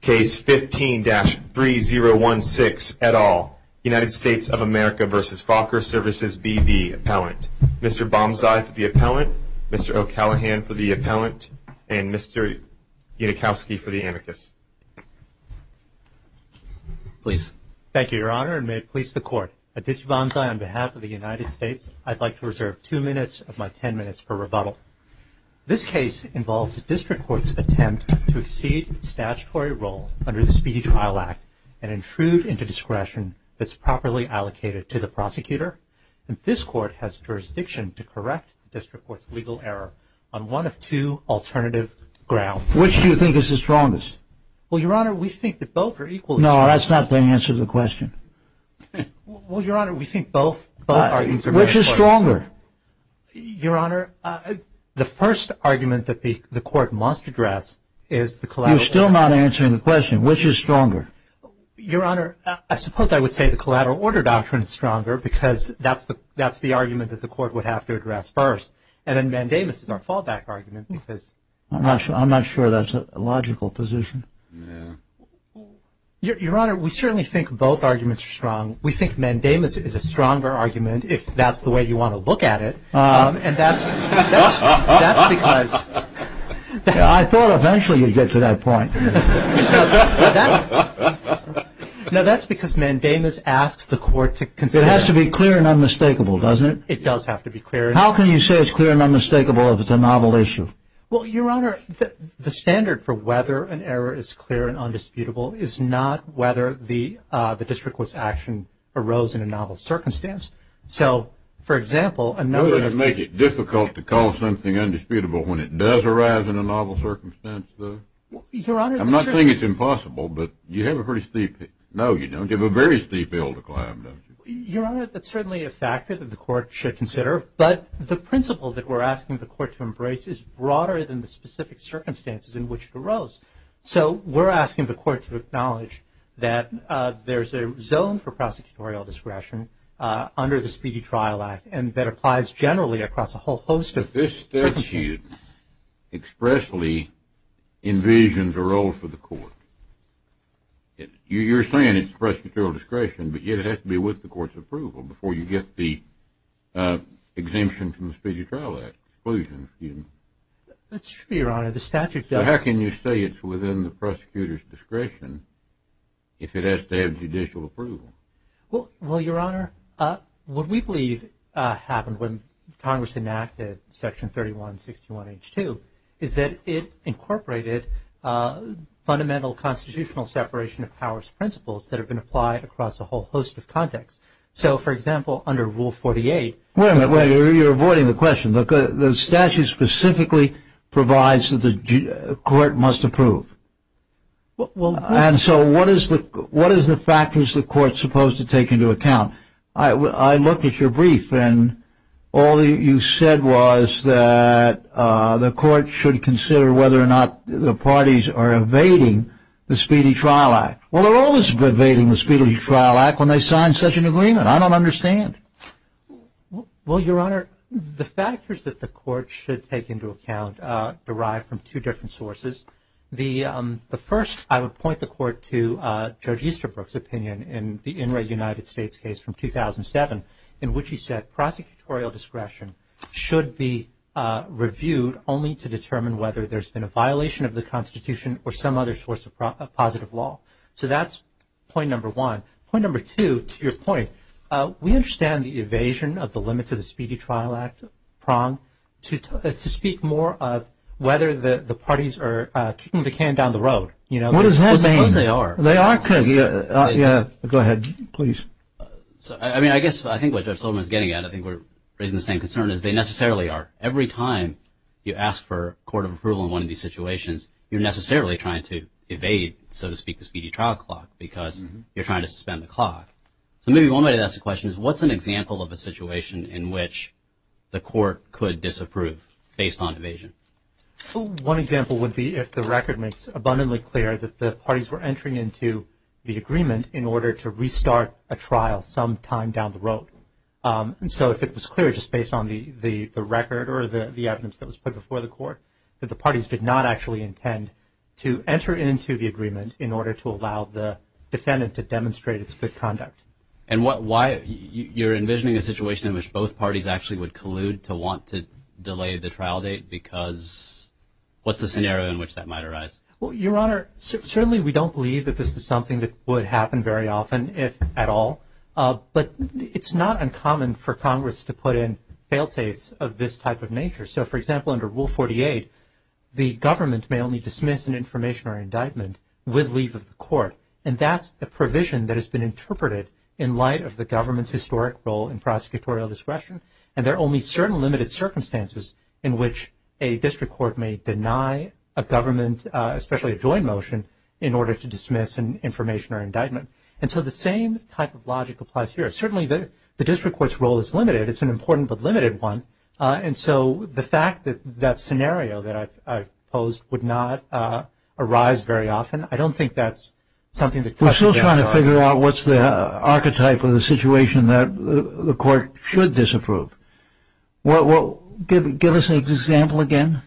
Case 15-3016, et al., United States of America v. Fokker Services B.V. Appellant. Mr. Bonsai for the appellant, Mr. O'Callaghan for the appellant, and Mr. Unikowski for the anarchist. Please. Thank you, Your Honor, and may it please the Court, at Ditch Bonsai on behalf of the United States, This case involves a district court's attempt to exceed statutory role under the Speedy Trial Act and intrude into discretion that's properly allocated to the prosecutor. This court has jurisdiction to correct the district court's legal error on one of two alternative grounds. Which do you think is the strongest? Well, Your Honor, we think that both are equally strong. No, that's not the answer to the question. Well, Your Honor, we think both are equally strong. Which is stronger? Your Honor, the first argument that the court must address is the collateral order doctrine. You're still not answering the question. Which is stronger? Your Honor, I suppose I would say the collateral order doctrine is stronger because that's the argument that the court would have to address first, and then mandamus is our fallback argument. I'm not sure that's a logical position. Yeah. Your Honor, we certainly think both arguments are strong. We think mandamus is a stronger argument, if that's the way you want to look at it. And that's because... I thought eventually you'd get to that point. No, that's because mandamus asks the court to consider... It has to be clear and unmistakable, doesn't it? It does have to be clear. How can you say it's clear and unmistakable if it's a novel issue? Well, Your Honor, the standard for whether an error is clear and undisputable is not whether the disrequisite action arose in a novel circumstance. So, for example, another... Would it make it difficult to call something undisputable when it does arise in a novel circumstance, though? Your Honor... I'm not saying it's impossible, but you have a pretty steep... No, you don't. You have a very steep hill to climb, don't you? Your Honor, that's certainly a factor that the court should consider. But the principle that we're asking the court to embrace is broader than the specific circumstances in which it arose. So we're asking the court to acknowledge that there's a zone for prosecutorial discretion under the Speedy Trial Act and that applies generally across a whole host of circumstances. But this statute expressly envisions a role for the court. You're saying it's prosecutorial discretion, but yet it has to be with the court's approval before you get the exemption from the Speedy Trial Act, exclusion, excuse me. That's true, Your Honor, the statute does... But how can you say it's within the prosecutor's discretion if it has to have judicial approval? Well, Your Honor, what we believe happened when Congress enacted Section 3161H2 is that it incorporated fundamental constitutional separation of powers principles that have been applied across a whole host of contexts. So, for example, under Rule 48... Wait a minute, you're avoiding the question. The statute specifically provides that the court must approve. And so what is the factors the court's supposed to take into account? I looked at your brief and all you said was that the court should consider whether or not the parties are evading the Speedy Trial Act. Well, they're always evading the Speedy Trial Act when they sign such an agreement. I don't understand. Well, Your Honor, the factors that the court should take into account derive from two different sources. The first, I would point the court to Judge Easterbrook's opinion in the Inouye United States case from 2007, in which he said prosecutorial discretion should be reviewed only to determine whether there's been a violation of the Constitution or some other source of positive law. So that's point number one. Point number two, to your point, we understand the evasion of the limits of the Speedy Trial Act prong to speak more of whether the parties are kicking the can down the road. What does that mean? Well, suppose they are. They are because... Go ahead, please. I mean, I guess I think what Judge Silverman's getting at, I think we're raising the same concern, is they necessarily are. Every time you ask for a court of approval in one of these situations, you're necessarily trying to evade, so to speak, the Speedy Trial Clock because you're trying to suspend the clock. So maybe one way to ask the question is, what's an example of a situation in which the court could disapprove based on evasion? One example would be if the record makes abundantly clear that the parties were entering into the agreement in order to restart a trial sometime down the road. And so if it was clear just based on the record or the evidence that was put before the court that the parties did not actually intend to enter into the agreement in order to allow the defendant to demonstrate its good conduct. And why? You're envisioning a situation in which both parties actually would collude to want to delay the trial date because what's the scenario in which that might arise? Well, Your Honor, certainly we don't believe that this is something that would happen very often, if at all. But it's not uncommon for Congress to put in fail-safes of this type of nature. So, for example, under Rule 48, the government may only dismiss an information or indictment with leave of the court. And that's a provision that has been interpreted in light of the government's historic role in prosecutorial discretion. And there are only certain limited circumstances in which a district court may deny a government, especially a joint motion, in order to dismiss an information or indictment. And so the same type of logic applies here. Certainly the district court's role is limited. It's an important but limited one. And so the fact that that scenario that I've posed would not arise very often, I don't think that's something that questions our argument. We're still trying to figure out what's the archetype of the situation that the court should disapprove. Well, give us an example again.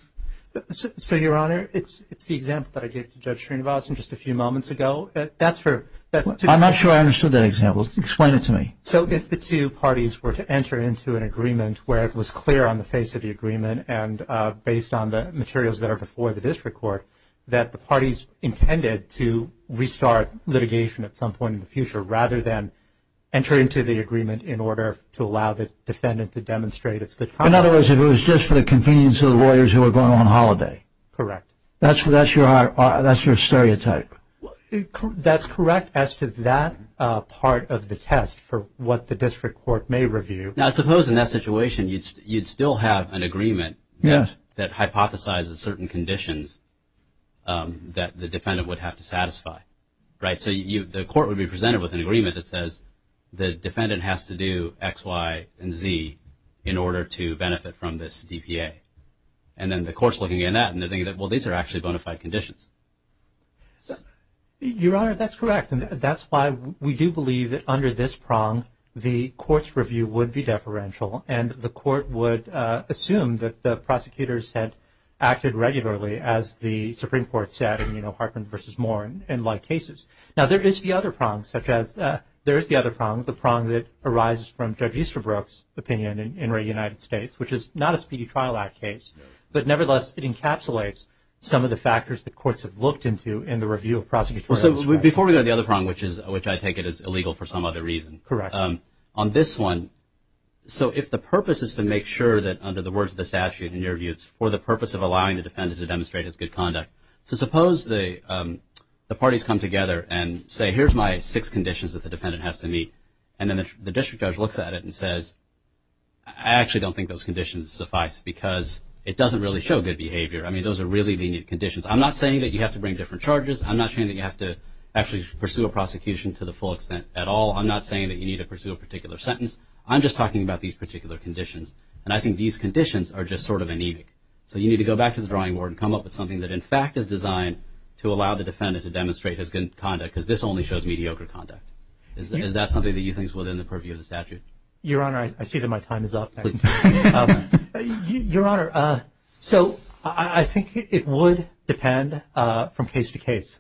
So, Your Honor, it's the example that I gave to Judge Srinivasan just a few moments ago. I'm not sure I understood that example. Explain it to me. So if the two parties were to enter into an agreement where it was clear on the face of the agreement and based on the materials that are before the district court that the parties intended to restart litigation at some point in the future rather than enter into the agreement in order to allow the defendant to demonstrate its good conduct. In other words, if it was just for the convenience of the lawyers who were going on holiday. Correct. That's your stereotype. That's correct as to that part of the test for what the district court may review. Now, suppose in that situation you'd still have an agreement that hypothesizes certain conditions that the defendant would have to satisfy, right? So the court would be presented with an agreement that says the defendant has to do X, Y, and Z in order to benefit from this DPA. And then the court's looking at that and they're thinking, well, these are actually bona fide conditions. Your Honor, that's correct. And that's why we do believe that under this prong the court's review would be deferential and the court would assume that the prosecutors had acted regularly as the Supreme Court said, you know, Hartman v. Moore in like cases. Now, there is the other prong such as there is the other prong, the prong that arises from Judge Easterbrook's opinion in the United States, which is not a Speedy Trial Act case, but nevertheless it encapsulates some of the factors that courts have looked into in the review of prosecution. Well, so before we go to the other prong, which I take it is illegal for some other reason. Correct. On this one, so if the purpose is to make sure that under the words of the statute in your view, it's for the purpose of allowing the defendant to demonstrate his good conduct. So suppose the parties come together and say, here's my six conditions that the defendant has to meet, and then the district judge looks at it and says, I actually don't think those conditions suffice because it doesn't really show good behavior. I mean, those are really lenient conditions. I'm not saying that you have to bring different charges. I'm not saying that you have to actually pursue a prosecution to the full extent at all. I'm not saying that you need to pursue a particular sentence. I'm just talking about these particular conditions. And I think these conditions are just sort of anemic. So you need to go back to the drawing board and come up with something that, in fact, is designed to allow the defendant to demonstrate his good conduct because this only shows mediocre conduct. Is that something that you think is within the purview of the statute? Your Honor, I see that my time is up. Your Honor, so I think it would depend from case to case.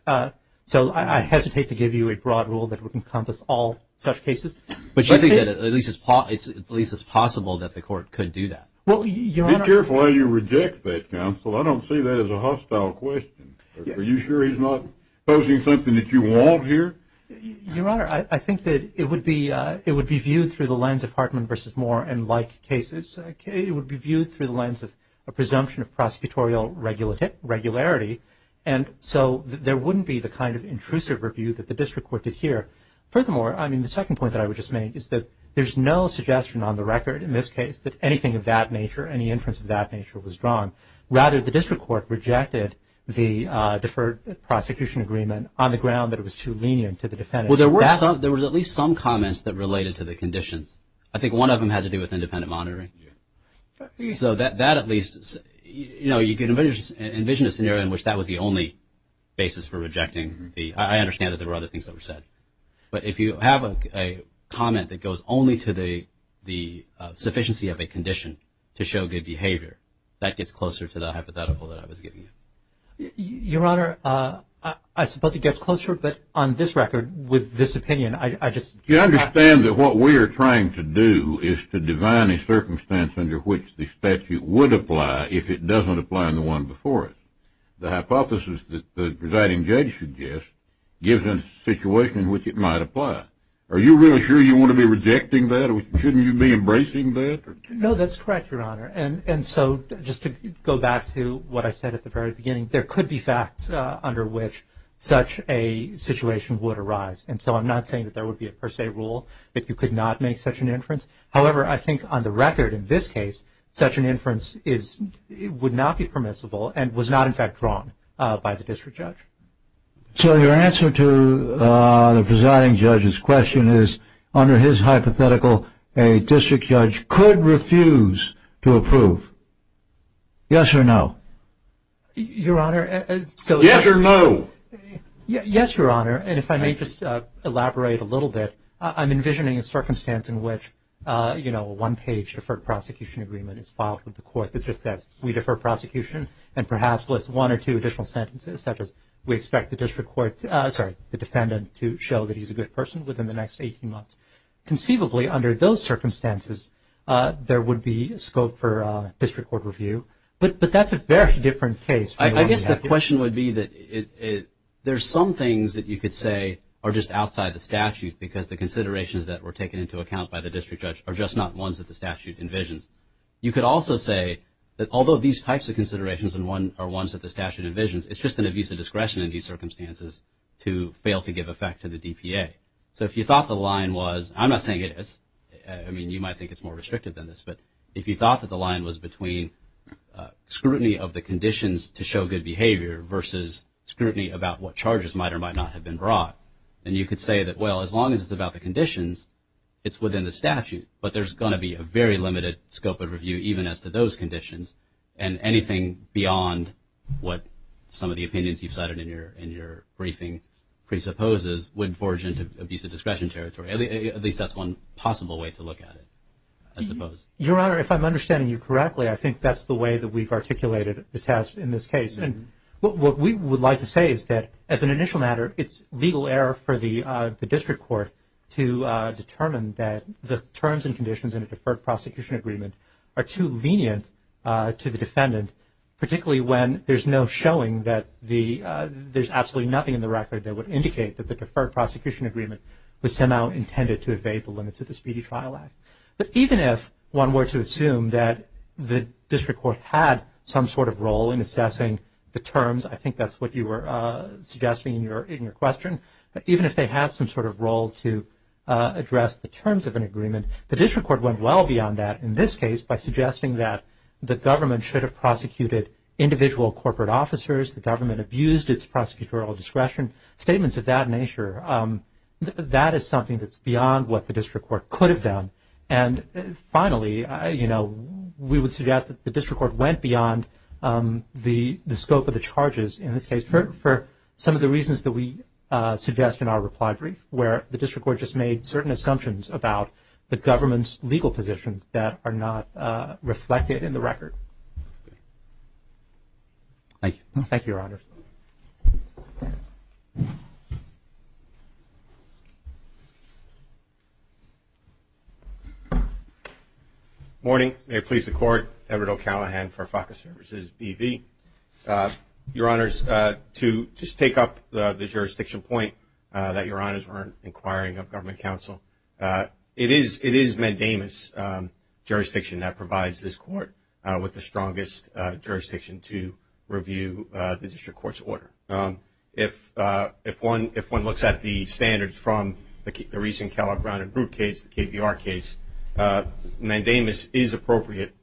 So I hesitate to give you a broad rule that would encompass all such cases. But you think that at least it's possible that the court could do that? Be careful how you reject that, counsel. I don't see that as a hostile question. Are you sure he's not posing something that you want here? Your Honor, I think that it would be viewed through the lens of Hartman v. Moore and like cases. It would be viewed through the lens of a presumption of prosecutorial regularity. And so there wouldn't be the kind of intrusive review that the district court did here. Furthermore, I mean, the second point that I would just make is that there's no suggestion on the record, in this case, that anything of that nature, any inference of that nature was drawn. Rather, the district court rejected the deferred prosecution agreement on the ground that it was too lenient to the defendant. Well, there were at least some comments that related to the conditions. I think one of them had to do with independent monitoring. So that at least, you know, you can envision a scenario in which that was the only basis for rejecting. I understand that there were other things that were said. But if you have a comment that goes only to the sufficiency of a condition to show good behavior, that gets closer to the hypothetical that I was giving you. Your Honor, I suppose it gets closer. But on this record, with this opinion, I just – Do you understand that what we are trying to do is to divine a circumstance under which the statute would apply if it doesn't apply in the one before it? The hypothesis that the presiding judge suggests gives a situation in which it might apply. Are you really sure you want to be rejecting that? Shouldn't you be embracing that? No, that's correct, Your Honor. And so just to go back to what I said at the very beginning, there could be facts under which such a situation would arise. And so I'm not saying that there would be a per se rule that you could not make such an inference. However, I think on the record in this case, such an inference would not be permissible and was not, in fact, drawn by the district judge. So your answer to the presiding judge's question is, under his hypothetical, a district judge could refuse to approve. Yes or no? Your Honor, so – Yes or no? Yes, Your Honor. And if I may just elaborate a little bit. I'm envisioning a circumstance in which, you know, a one-page deferred prosecution agreement is filed with the court that just says we defer prosecution and perhaps lists one or two additional sentences such as we expect the district court – sorry, the defendant to show that he's a good person within the next 18 months. Conceivably, under those circumstances, there would be scope for district court review. But that's a very different case. I guess the question would be that there's some things that you could say are just outside the statute because the considerations that were taken into account by the district judge are just not ones that the statute envisions. You could also say that although these types of considerations are ones that the statute envisions, it's just an abuse of discretion in these circumstances to fail to give effect to the DPA. So if you thought the line was – I'm not saying it – I mean, you might think it's more restrictive than this, but if you thought that the line was between scrutiny of the conditions to show good behavior versus scrutiny about what charges might or might not have been brought, then you could say that, well, as long as it's about the conditions, it's within the statute. But there's going to be a very limited scope of review even as to those conditions, and anything beyond what some of the opinions you've cited in your briefing presupposes would forge into abuse of discretion territory. At least that's one possible way to look at it, I suppose. Your Honor, if I'm understanding you correctly, I think that's the way that we've articulated the test in this case. What we would like to say is that as an initial matter, it's legal error for the district court to determine that the terms and conditions in a deferred prosecution agreement are too lenient to the defendant, particularly when there's no showing that the – the deferred prosecution agreement was somehow intended to evade the limits of the Speedy Trial Act. But even if one were to assume that the district court had some sort of role in assessing the terms, I think that's what you were suggesting in your question, that even if they had some sort of role to address the terms of an agreement, the district court went well beyond that in this case by suggesting that the government should have prosecuted individual corporate officers, the government abused its prosecutorial discretion. Statements of that nature, that is something that's beyond what the district court could have done. And finally, you know, we would suggest that the district court went beyond the scope of the charges in this case for some of the reasons that we suggest in our reply brief, where the district court just made certain assumptions about the government's legal positions that are not reflected in the record. Thank you. Thank you, Your Honors. Good morning. May it please the Court, Edward O'Callaghan for FACA Services, B.V. Your Honors, to just take up the jurisdiction point that Your Honors were inquiring of government counsel, it is Mandamus jurisdiction that provides this court with the strongest jurisdiction to review the district court's order. If one looks at the standards from the recent Kelley, Brown, and Root case, the KBR case, Mandamus is appropriate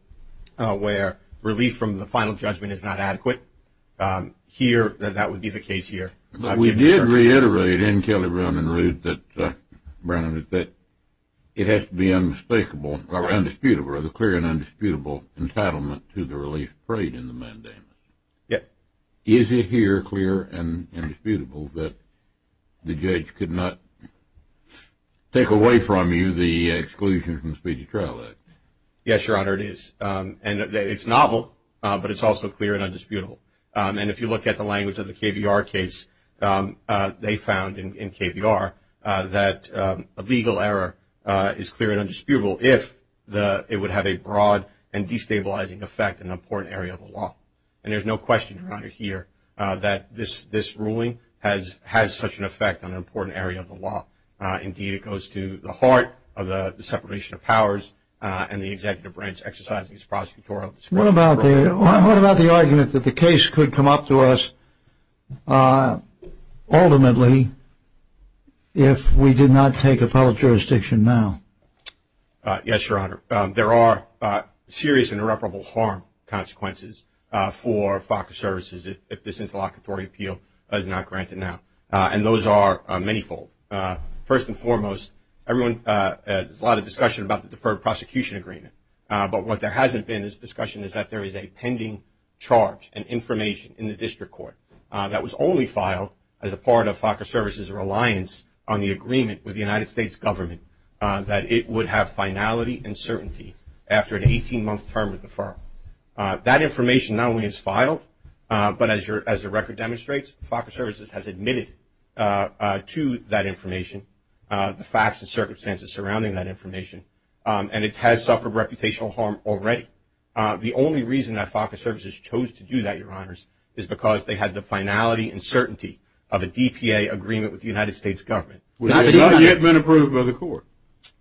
where relief from the final judgment is not adequate. Here, that would be the case here. We did reiterate in Kelley, Brown, and Root that, Brandon, that it has to be unmistakable or undisputable or the clear and undisputable entitlement to the release of freight in the Mandamus. Yes. Is it here clear and indisputable that the judge could not take away from you the exclusion from the Speedy Trial Act? Yes, Your Honor, it is. And it's novel, but it's also clear and undisputable. And if you look at the language of the KBR case, they found in KBR that a legal error is clear and undisputable if it would have a broad and destabilizing effect in an important area of the law. And there's no question, Your Honor, here, that this ruling has such an effect on an important area of the law. Indeed, it goes to the heart of the separation of powers and the executive branch exercising its prosecutorial discretion. What about the argument that the case could come up to us ultimately if we did not take appellate jurisdiction now? Yes, Your Honor. There are serious and irreparable harm consequences for FOX Services if this interlocutory appeal is not granted now. And those are manyfold. First and foremost, there's a lot of discussion about the deferred prosecution agreement. But what there hasn't been is discussion is that there is a pending charge and information in the district court that was only filed as a part of FOX Services' reliance on the agreement with the United States government that it would have finality and certainty after an 18-month term with the firm. That information not only is filed, but as the record demonstrates, FOX Services has admitted to that information the facts and circumstances surrounding that information. And it has suffered reputational harm already. The only reason that FOX Services chose to do that, Your Honors, is because they had the finality and certainty of a DPA agreement with the United States government. Would it not have yet been approved by the court?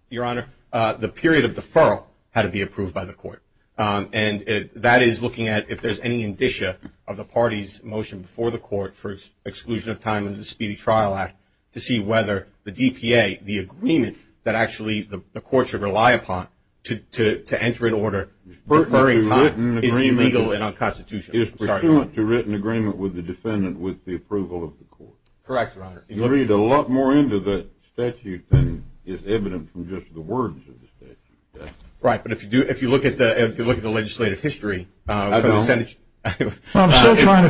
Your Honor, the period of deferral had to be approved by the court. And that is looking at if there's any indicia of the party's motion before the court for exclusion of time under the Speedy Trial Act to see whether the DPA, the agreement that actually the court should rely upon to enter into order, deferring time, is illegal and unconstitutional. It's pursuant to written agreement with the defendant with the approval of the court. Correct, Your Honor. You read a lot more into the statute than is evident from just the words of the statute. Right. But if you look at the legislative history, I'm still trying to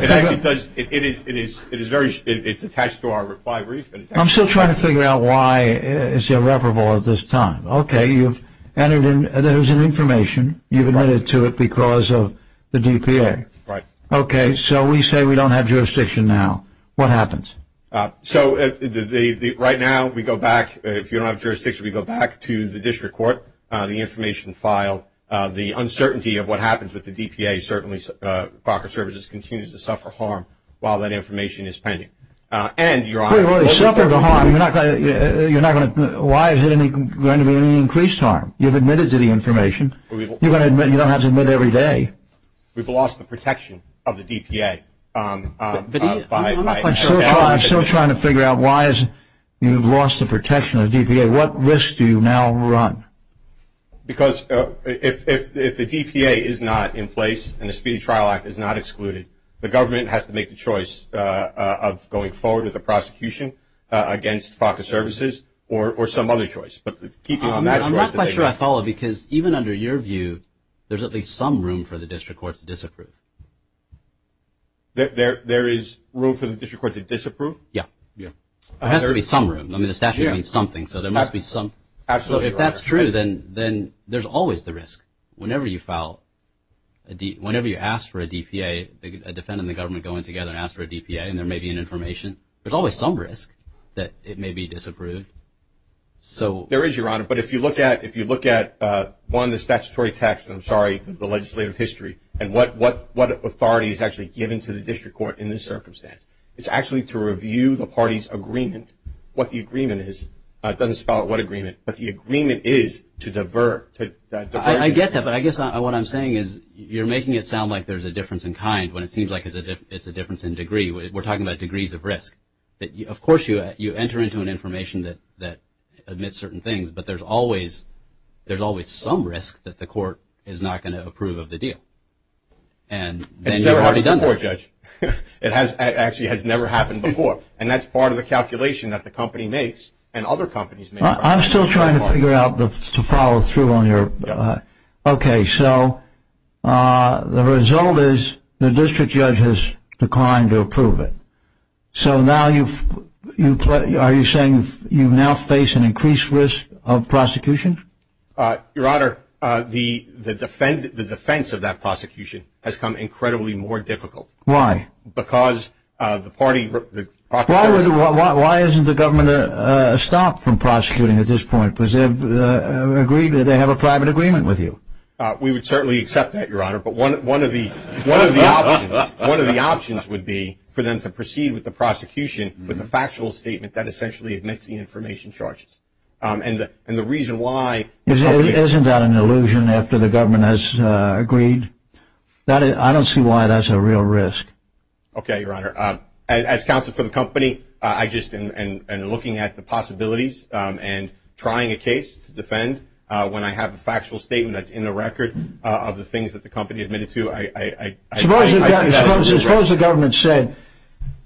figure out why it's irreparable at this time. Okay, you've entered in, there's an information, you've admitted to it because of the DPA. Right. Okay, so we say we don't have jurisdiction now. What happens? So right now we go back, if you don't have jurisdiction, we go back to the district court, the information filed, the uncertainty of what happens with the DPA. Certainly, Parker Services continues to suffer harm while that information is pending. And, Your Honor, Wait a minute, suffer the harm? You're not going to, why is there going to be any increased harm? You've admitted to the information. You don't have to admit every day. We've lost the protection of the DPA. I'm still trying to figure out why you've lost the protection of the DPA. Okay, what risk do you now run? Because if the DPA is not in place and the Speedy Trial Act is not excluded, the government has to make the choice of going forward with the prosecution against Parker Services or some other choice. I'm not quite sure I follow because even under your view, there's at least some room for the district court to disapprove. There is room for the district court to disapprove? Yeah. Yeah. There has to be some room. I mean, the statute means something, so there must be some. Absolutely, Your Honor. So if that's true, then there's always the risk. Whenever you file, whenever you ask for a DPA, a defendant and the government go in together and ask for a DPA and there may be an information, there's always some risk that it may be disapproved. There is, Your Honor, but if you look at, one, the statutory text, I'm sorry, the legislative history and what authority is actually given to the district court in this circumstance, it's actually to review the party's agreement, what the agreement is. It doesn't spell out what agreement, but the agreement is to divert. I get that, but I guess what I'm saying is you're making it sound like there's a difference in kind when it seems like it's a difference in degree. We're talking about degrees of risk. Of course, you enter into an information that admits certain things, but there's always some risk that the court is not going to approve of the deal. And then you've already done that. I'm sorry, Judge. It actually has never happened before, and that's part of the calculation that the company makes and other companies make. I'm still trying to figure out to follow through on your. Okay. So the result is the district judge has declined to approve it. So now you've, are you saying you now face an increased risk of prosecution? Your Honor, the defense of that prosecution has become incredibly more difficult. Why? Because the party, the process. Why isn't the government stopped from prosecuting at this point? Does it agree that they have a private agreement with you? We would certainly accept that, Your Honor, but one of the options would be for them to proceed with the prosecution with a factual statement that essentially admits the information charges. And the reason why. Isn't that an illusion after the government has agreed? I don't see why that's a real risk. Okay, Your Honor. As counsel for the company, I just, and looking at the possibilities and trying a case to defend when I have a factual statement that's in the record of the things that the company admitted to, I see that as a risk. Suppose the government said,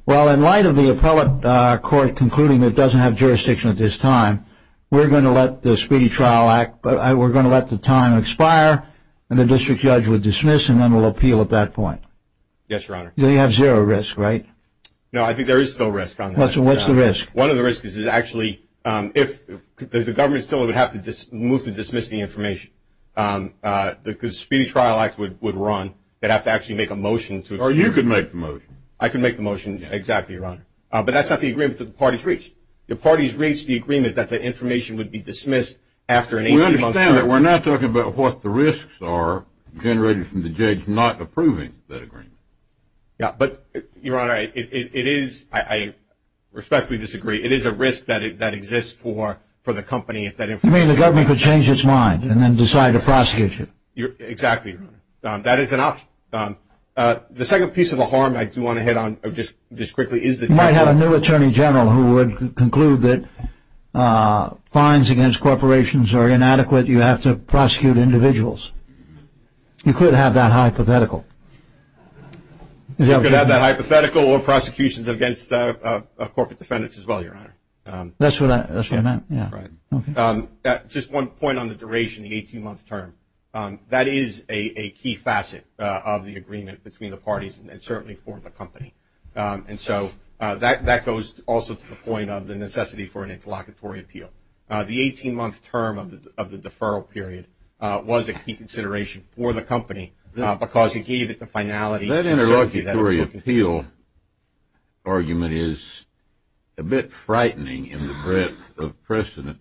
Well, in light of the appellate court concluding it doesn't have jurisdiction at this time, we're going to let the Speedy Trial Act, we're going to let the time expire, and the district judge would dismiss, and then we'll appeal at that point. Yes, Your Honor. Then you have zero risk, right? No, I think there is still risk on that. What's the risk? One of the risks is actually if the government still would have to move to dismiss the information, the Speedy Trial Act would run, they'd have to actually make a motion. Or you could make the motion. I can make the motion, exactly, Your Honor. But that's not the agreement that the parties reached. The parties reached the agreement that the information would be dismissed after an 18-month period. We understand that. We're not talking about what the risks are generated from the judge not approving that agreement. Yeah, but, Your Honor, it is, I respectfully disagree, it is a risk that exists for the company if that information You mean the government could change its mind and then decide to prosecute you? Exactly, Your Honor. That is an option. The second piece of the harm I do want to hit on just quickly is that You might have a new Attorney General who would conclude that fines against corporations are inadequate, you have to prosecute individuals. You could have that hypothetical. You could have that hypothetical or prosecutions against corporate defendants as well, Your Honor. That's what I meant, yeah. Right. Just one point on the duration, the 18-month term. That is a key facet of the agreement between the parties and certainly for the company. And so that goes also to the point of the necessity for an interlocutory appeal. The 18-month term of the deferral period was a key consideration for the company because it gave it the finality. That interlocutory appeal argument is a bit frightening in the breadth of precedent.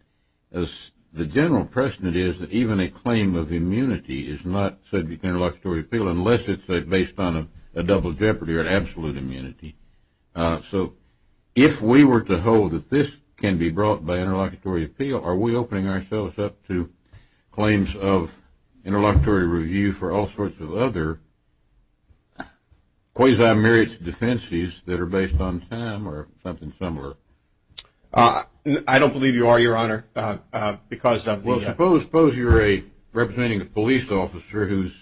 The general precedent is that even a claim of immunity is not subject to interlocutory appeal unless it's based on a double jeopardy or an absolute immunity. So if we were to hold that this can be brought by interlocutory appeal, are we opening ourselves up to claims of interlocutory review for all sorts of other quasi-merits defenses that are based on time or something similar? I don't believe you are, Your Honor, because of the... Well, suppose you're representing a police officer who's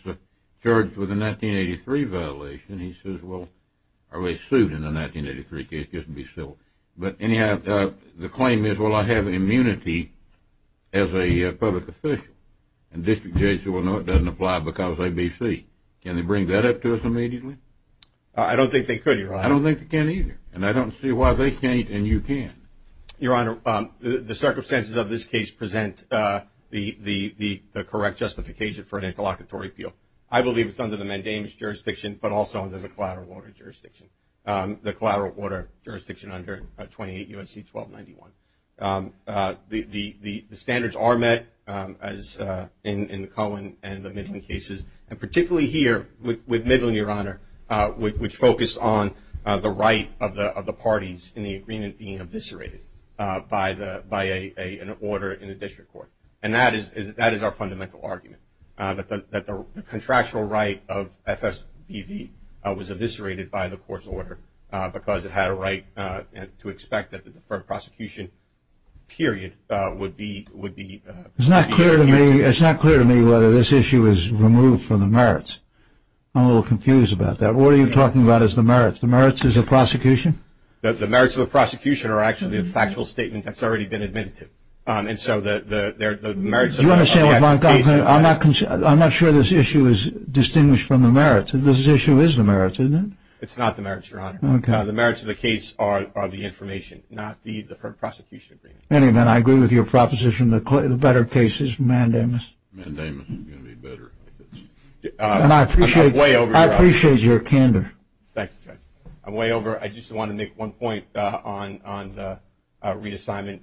charged with a 1983 violation. He says, well, are we sued in a 1983 case? Just to be civil. But anyhow, the claim is, well, I have immunity as a public official. And district judges say, well, no, it doesn't apply because ABC. Can they bring that up to us immediately? I don't think they could, Your Honor. I don't think they can either. And I don't see why they can't and you can't. Your Honor, the circumstances of this case present the correct justification for an interlocutory appeal. I believe it's under the mandamus jurisdiction but also under the collateral order jurisdiction, the collateral order jurisdiction under 28 U.S.C. 1291. The standards are met as in the Cohen and the Midland cases, and particularly here with Midland, Your Honor, which focused on the right of the parties in the agreement being eviscerated by an order in the district court. And that is our fundamental argument, that the contractual right of FSBV was eviscerated by the court's order because it had a right to expect that the deferred prosecution period would be... It's not clear to me whether this issue is removed from the merits. I'm a little confused about that. What are you talking about is the merits? The merits is the prosecution? The merits of the prosecution are actually a factual statement that's already been admitted to. And so the merits of the case... You want to say... I'm not sure this issue is distinguished from the merits. This issue is the merits, isn't it? It's not the merits, Your Honor. The merits of the case are the information, not the deferred prosecution. Anyway, I agree with your proposition. The better case is mandamus. Mandamus is going to be better. And I appreciate your candor. Thank you, Judge. I'm way over. I just want to make one point on the reassignment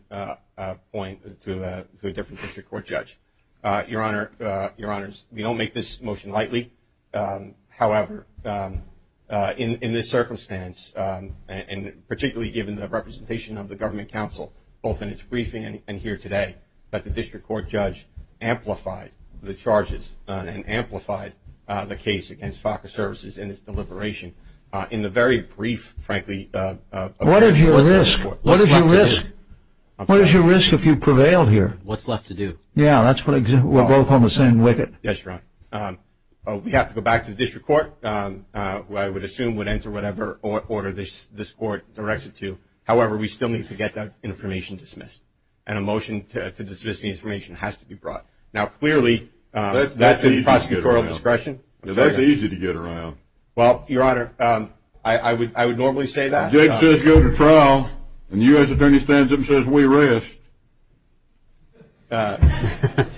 point to a different district court judge. Your Honor, we don't make this motion lightly. However, in this circumstance, and particularly given the representation of the government council, both in its briefing and here today, that the district court judge amplified the charges and amplified the case against FACA services in its deliberation in the very brief, frankly... What is your risk? What is your risk? What is your risk if you prevail here? What's left to do? Yeah, that's what I... We're both on the same wicket. That's right. We have to go back to the district court, who I would assume would enter whatever order this court directs it to. However, we still need to get that information dismissed. And a motion to dismiss the information has to be brought. Now, clearly, that's in prosecutorial discretion. That's easy to get around. Well, Your Honor, I would normally say that. Jake says go to trial, and the U.S. Attorney stands up and says we rest.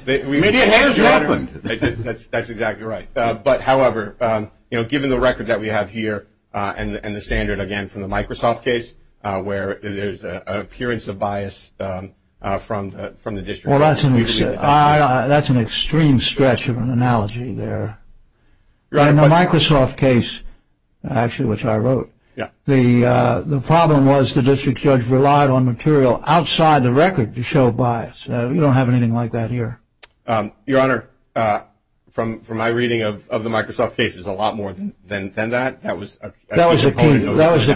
Maybe it has happened. That's exactly right. But, however, given the record that we have here and the standard, again, from the Microsoft case, where there's an appearance of bias from the district court... Well, that's an extreme stretch of an analogy there. In the Microsoft case, actually, which I wrote, the problem was the district judge relied on material outside the record to show bias. We don't have anything like that here. Your Honor, from my reading of the Microsoft case, there's a lot more than that. That was a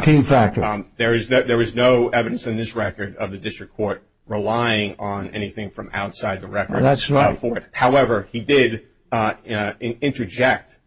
key factor. There was no evidence in this record of the district court relying on anything from outside the record for it. That's right. However, he did interject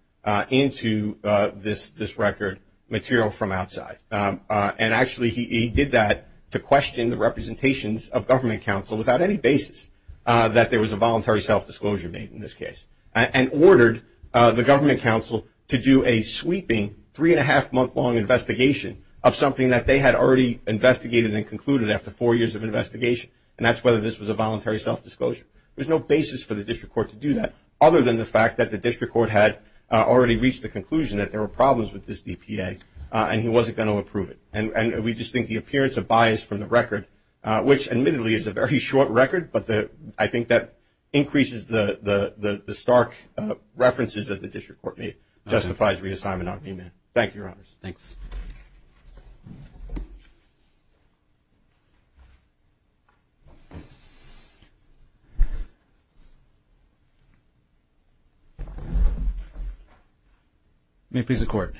into this record material from outside. Actually, he did that to question the representations of government counsel without any basis that there was a voluntary self-disclosure made in this case, and ordered the government counsel to do a sweeping three-and-a-half-month-long investigation of something that they had already investigated and concluded after four years of investigation, and that's whether this was a voluntary self-disclosure. There's no basis for the district court to do that, other than the fact that the district court had already reached the conclusion that there were problems with this DPA and he wasn't going to approve it. And we just think the appearance of bias from the record, which admittedly is a very short record, but I think that increases the stark references that the district court made justifies reassignment on DMA. Thank you, Your Honors. Thanks. May it please the Court.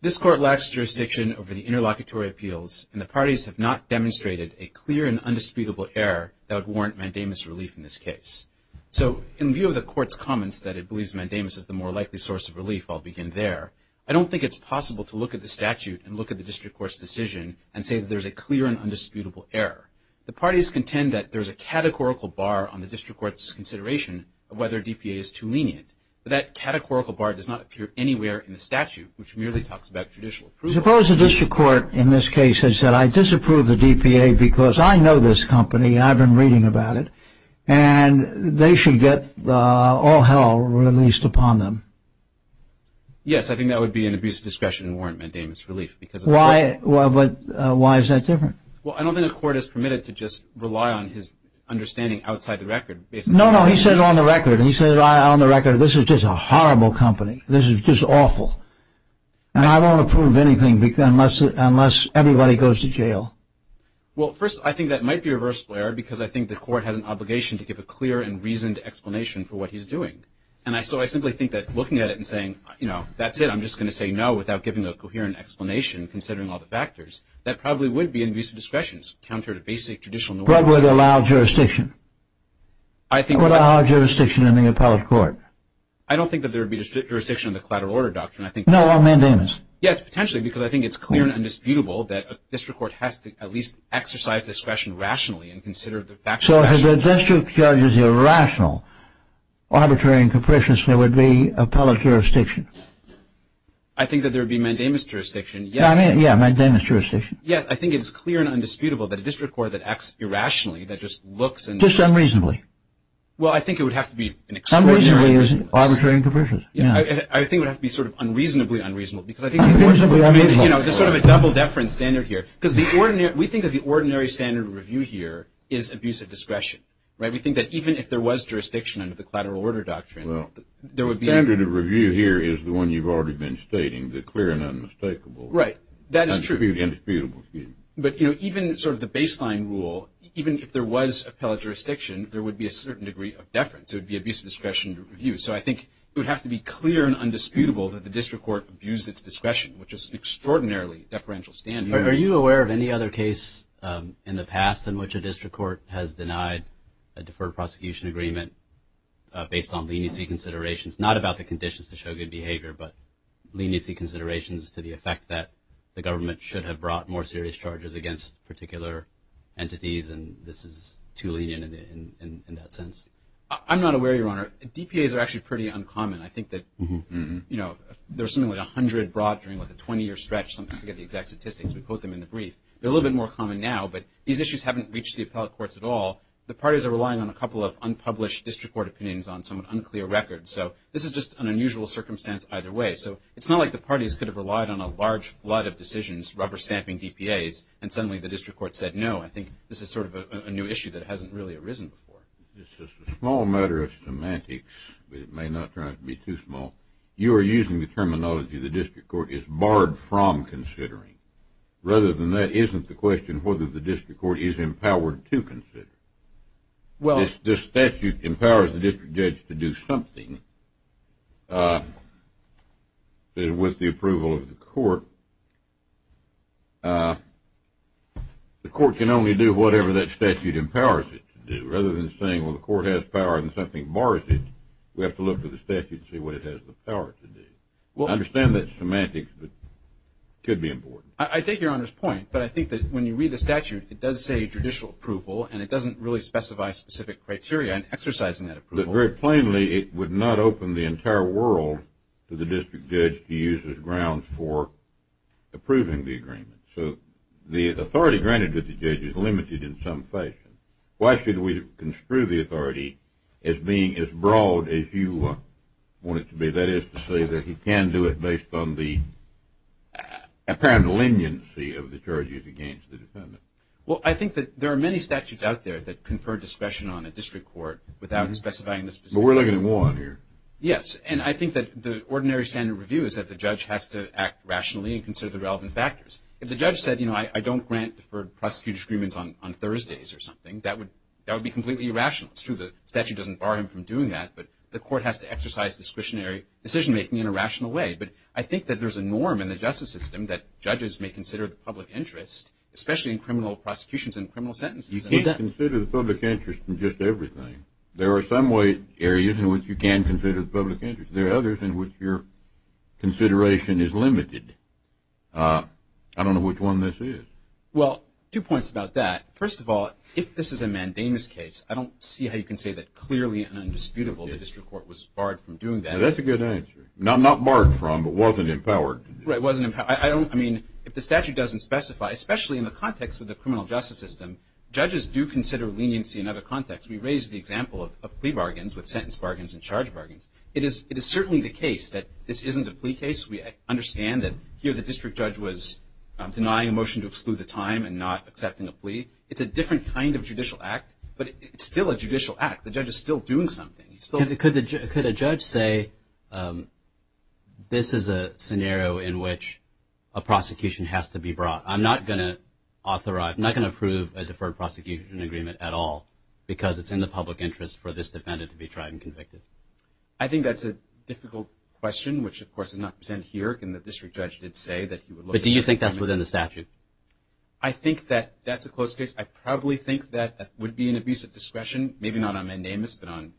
This Court lacks jurisdiction over the interlocutory appeals, and the parties have not demonstrated a clear and undisputable error that would warrant mandamus relief in this case. So, in view of the Court's comments that it believes mandamus is the more likely source of relief, I'll begin there. I don't think it's possible to look at the statute and look at the district court's decision and say that there's a clear and undisputable error. The parties contend that there's a categorical bar on the district court's consideration of whether DPA is too lenient, but that categorical bar does not appear anywhere in the statute, which merely talks about judicial approval. Suppose the district court in this case has said, I disapprove the DPA because I know this company, I've been reading about it, and they should get all hell released upon them. Yes, I think that would be an abuse of discretion and warrant mandamus relief. Why is that different? Well, I don't think the Court is permitted to just rely on his understanding outside the record. No, no, he said on the record. He said on the record, this is just a horrible company. This is just awful. And I won't approve anything unless everybody goes to jail. Well, first, I think that might be a reversible error because I think the Court has an obligation to give a clear and reasoned explanation for what he's doing. And so I simply think that looking at it and saying, you know, that's it, I'm just going to say no without giving a coherent explanation considering all the factors, that probably would be an abuse of discretion, counter to basic judicial norms. What would allow jurisdiction? What would allow jurisdiction in the appellate court? I don't think that there would be jurisdiction in the collateral order doctrine. No, on mandamus. Yes, potentially, because I think it's clear and indisputable that a district court has to at least exercise discretion rationally and consider the facts. So if the district judge is irrational, arbitrary and capricious, there would be appellate jurisdiction. I think that there would be mandamus jurisdiction. Yes, mandamus jurisdiction. Yes, I think it's clear and indisputable that a district court that acts irrationally, that just looks and – Just unreasonably. Well, I think it would have to be an extraordinary – Unreasonably is arbitrary and capricious. I think it would have to be sort of unreasonably unreasonable because I think – Unreasonably unreasonable. I mean, you know, there's sort of a double deference standard here because we think that the ordinary standard of review here is abuse of discretion, right? We think that even if there was jurisdiction under the collateral order doctrine, there would be – Well, the standard of review here is the one you've already been stating, the clear and unmistakable. Right, that is true. Indisputable, excuse me. But, you know, even sort of the baseline rule, even if there was appellate jurisdiction, there would be a certain degree of deference. It would be abuse of discretion to review. So I think it would have to be clear and undisputable that the district court abused its discretion, which is an extraordinarily deferential standard. Are you aware of any other case in the past in which a district court has denied a deferred prosecution agreement based on leniency considerations, not about the conditions to show good behavior, but leniency considerations to the effect that the government should have brought more serious charges against particular entities, and this is too lenient in that sense? I'm not aware, Your Honor. DPAs are actually pretty uncommon. I think that, you know, there's something like 100 brought during, like, a 20-year stretch, sometimes we get the exact statistics. We quote them in the brief. They're a little bit more common now, but these issues haven't reached the appellate courts at all. The parties are relying on a couple of unpublished district court opinions on some unclear records. So this is just an unusual circumstance either way. So it's not like the parties could have relied on a large flood of decisions, rubber-stamping DPAs, and suddenly the district court said, no, I think this is sort of a new issue that hasn't really arisen before. This is a small matter of semantics, but it may not try to be too small. You are using the terminology the district court is barred from considering. Rather than that, isn't the question whether the district court is empowered to consider? Well, if the statute empowers the district judge to do something with the approval of the court, the court can only do whatever that statute empowers it to do. Rather than saying, well, the court has power and something bars it, we have to look to the statute and see what it has the power to do. I understand that's semantics, but it could be important. I take Your Honor's point, but I think that when you read the statute, it does say judicial approval, and it doesn't really specify specific criteria in exercising that approval. Very plainly, it would not open the entire world to the district judge to use as grounds for approving the agreement. So the authority granted to the judge is limited in some fashion. Why should we construe the authority as being as broad as you want it to be? That is to say that he can do it based on the apparent leniency of the charges against the defendant. Well, I think that there are many statutes out there that confer discretion on a district court without specifying the specific criteria. But we're looking at one here. Yes, and I think that the ordinary standard review is that the judge has to act rationally and consider the relevant factors. If the judge said, you know, I don't grant deferred prosecutor's agreements on Thursdays or something, that would be completely irrational. It's true the statute doesn't bar him from doing that, but the court has to exercise discretionary decision-making in a rational way. But I think that there's a norm in the justice system that judges may consider the public interest, especially in criminal prosecutions and criminal sentences. You can't consider the public interest in just everything. There are some areas in which you can consider the public interest. There are others in which your consideration is limited. I don't know which one this is. Well, two points about that. First of all, if this is a mandamus case, I don't see how you can say that clearly and indisputably the district court was barred from doing that. That's a good answer. Not barred from, but wasn't empowered. Right, wasn't empowered. I mean, if the statute doesn't specify, especially in the context of the criminal justice system, judges do consider leniency in other contexts. We raised the example of plea bargains with sentence bargains and charge bargains. It is certainly the case that this isn't a plea case. We understand that here the district judge was denying a motion to exclude the time and not accepting a plea. It's a different kind of judicial act, but it's still a judicial act. The judge is still doing something. Could a judge say this is a scenario in which a prosecution has to be brought? I'm not going to authorize, I'm not going to approve a deferred prosecution agreement at all because it's in the public interest for this defendant to be tried and convicted. I think that's a difficult question, which, of course, is not presented here. The district judge did say that he would look at it. But do you think that's within the statute? I think that that's a close case. I probably think that would be an abuse of discretion, maybe not on mandamus, but on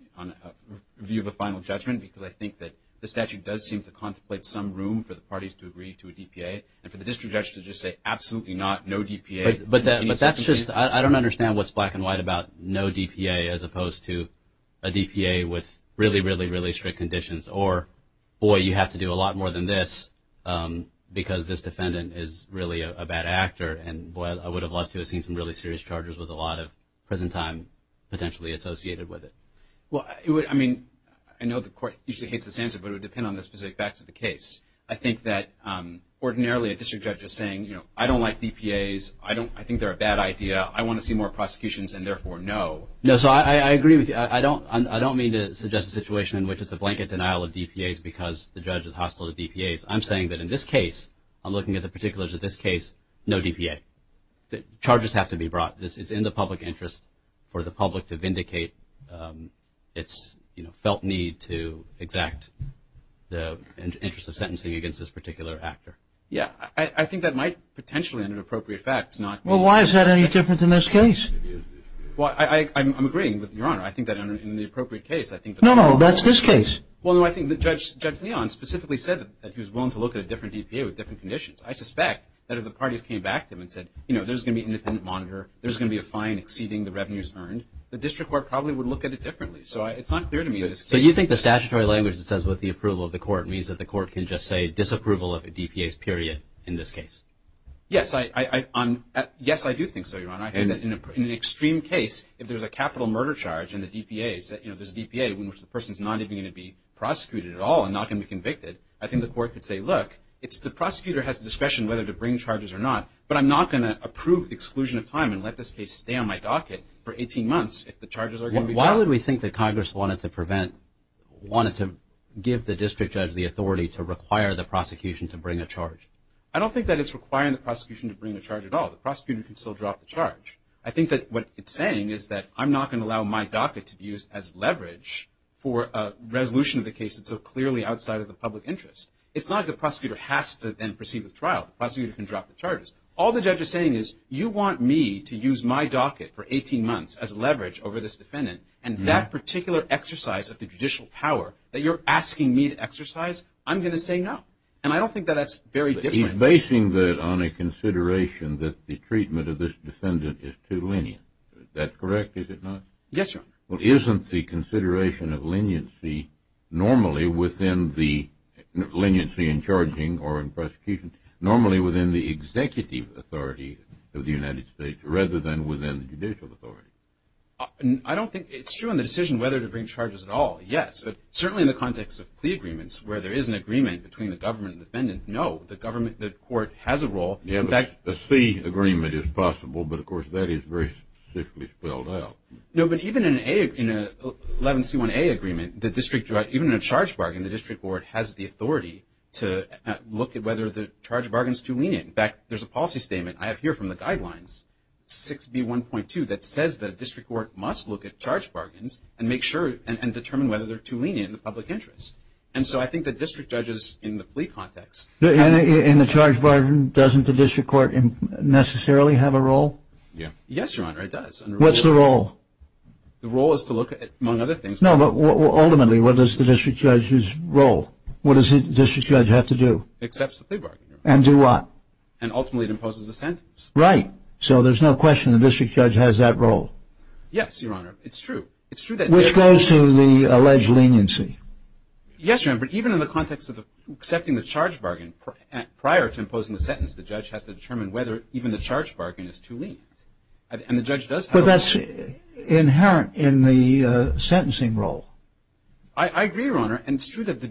view of a final judgment because I think that the statute does seem to contemplate some room for the parties to agree to a DPA, and for the district judge to just say absolutely not, no DPA. But that's just, I don't understand what's black and white about no DPA as opposed to a DPA with really, really, really strict conditions, or, boy, you have to do a lot more than this because this defendant is really a bad actor. And, boy, I would have loved to have seen some really serious charges with a lot of prison time potentially associated with it. Well, I mean, I know the court usually hates this answer, but it would depend on the specific facts of the case. I think that ordinarily a district judge is saying, you know, I don't like DPAs. I think they're a bad idea. I want to see more prosecutions and, therefore, no. No, so I agree with you. I don't mean to suggest a situation in which it's a blanket denial of DPAs because the judge is hostile to DPAs. I'm saying that in this case, I'm looking at the particulars of this case, no DPA. Charges have to be brought. It's in the public interest for the public to vindicate its, you know, felt need to exact the interest of sentencing against this particular actor. Yeah. I think that might potentially, under appropriate facts, not be the case. Well, why is that any different in this case? Well, I'm agreeing with Your Honor. I think that in the appropriate case, I think that's the case. No, no, that's this case. Well, no, I think Judge Leon specifically said that he was willing to look at a different DPA with different conditions. I suspect that if the parties came back to him and said, you know, there's going to be an independent monitor, there's going to be a fine exceeding the revenues earned, the district court probably would look at it differently. So it's not clear to me that this case. So you think the statutory language that says with the approval of the court means that the court can just say disapproval of a DPAs, period, in this case? Yes, I do think so, Your Honor. I think that in an extreme case, if there's a capital murder charge and there's a DPA in which the person is not even going to be prosecuted at all and not going to be convicted, I think the court could say, look, the prosecutor has discretion whether to bring charges or not, but I'm not going to approve exclusion of time and let this case stay on my docket for 18 months if the charges are going to be dropped. Why would we think that Congress wanted to give the district judge the authority to require the prosecution to bring a charge? I don't think that it's requiring the prosecution to bring a charge at all. The prosecutor can still drop a charge. I think that what it's saying is that I'm not going to allow my docket to be used as leverage for a resolution of the case that's so clearly outside of the public interest. It's not that the prosecutor has to then proceed with trial. The prosecutor can drop the charges. All the judge is saying is you want me to use my docket for 18 months as leverage over this defendant, and that particular exercise of the judicial power that you're asking me to exercise, I'm going to say no. And I don't think that that's very different. You're basing that on a consideration that the treatment of this defendant is too lenient. Is that correct? Is it not? Yes, Your Honor. Well, isn't the consideration of leniency normally within the leniency in charging or in prosecution normally within the executive authority of the United States rather than within the judicial authority? I don't think it's true in the decision whether to bring charges at all, yes, but certainly in the context of plea agreements where there is an agreement between the government and the defendant, no, the court has a role. Yes, a C agreement is possible, but, of course, that is very strictly spelled out. No, but even in an 11C1A agreement, the district judge, even in a charge bargain, the district court has the authority to look at whether the charge bargain is too lenient. In fact, there's a policy statement I have here from the guidelines, 6B1.2, that says that a district court must look at charge bargains and make sure and determine whether they're too lenient in the public interest. And so I think the district judge is in the plea context. In the charge bargain, doesn't the district court necessarily have a role? Yes, Your Honor, it does. What's the role? The role is to look at, among other things. No, but ultimately, what is the district judge's role? What does the district judge have to do? Accepts the plea bargain. And do what? And ultimately it imposes a sentence. Right. So there's no question the district judge has that role. Yes, Your Honor. It's true. Which goes to the alleged leniency. Yes, Your Honor. But even in the context of accepting the charge bargain prior to imposing the sentence, the judge has to determine whether even the charge bargain is too lenient. And the judge does have a role. But that's inherent in the sentencing role. I agree, Your Honor. And it's true that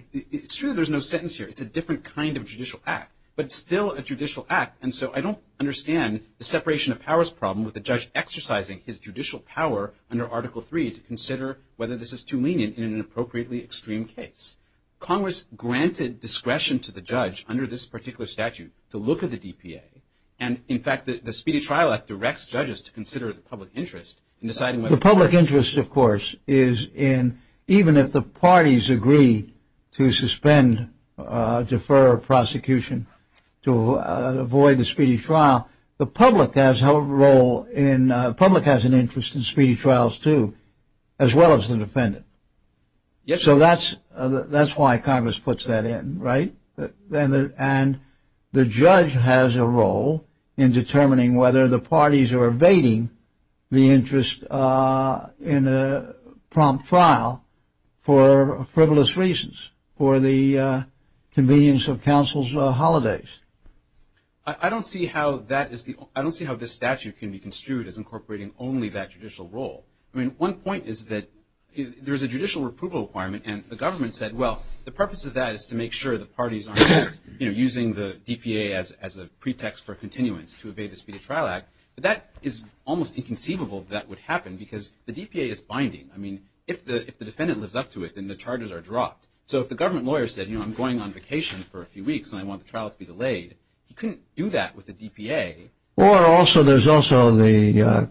there's no sentence here. It's a different kind of judicial act. But it's still a judicial act. And so I don't understand the separation of powers problem with the judge exercising his judicial power under Article III to consider whether this is too lenient in an appropriately extreme case. Congress granted discretion to the judge under this particular statute to look at the DPA. And, in fact, the Speedy Trial Act directs judges to consider the public interest in deciding whether The public interest, of course, is in even if the parties agree to suspend, defer prosecution to avoid the speedy trial, Now, the public has an interest in speedy trials, too, as well as the defendant. So that's why Congress puts that in, right? And the judge has a role in determining whether the parties are evading the interest in a prompt trial for frivolous reasons, for the convenience of counsel's holidays. I don't see how this statute can be construed as incorporating only that judicial role. I mean, one point is that there's a judicial approval requirement. And the government said, well, the purpose of that is to make sure the parties aren't just using the DPA as a pretext for continuance to evade the Speedy Trial Act. But that is almost inconceivable that would happen because the DPA is binding. I mean, if the defendant lives up to it, then the charges are dropped. So if the government lawyer said, you know, I'm going on vacation for a few weeks and I want the trial to be delayed, you couldn't do that with the DPA. Or also, there's also the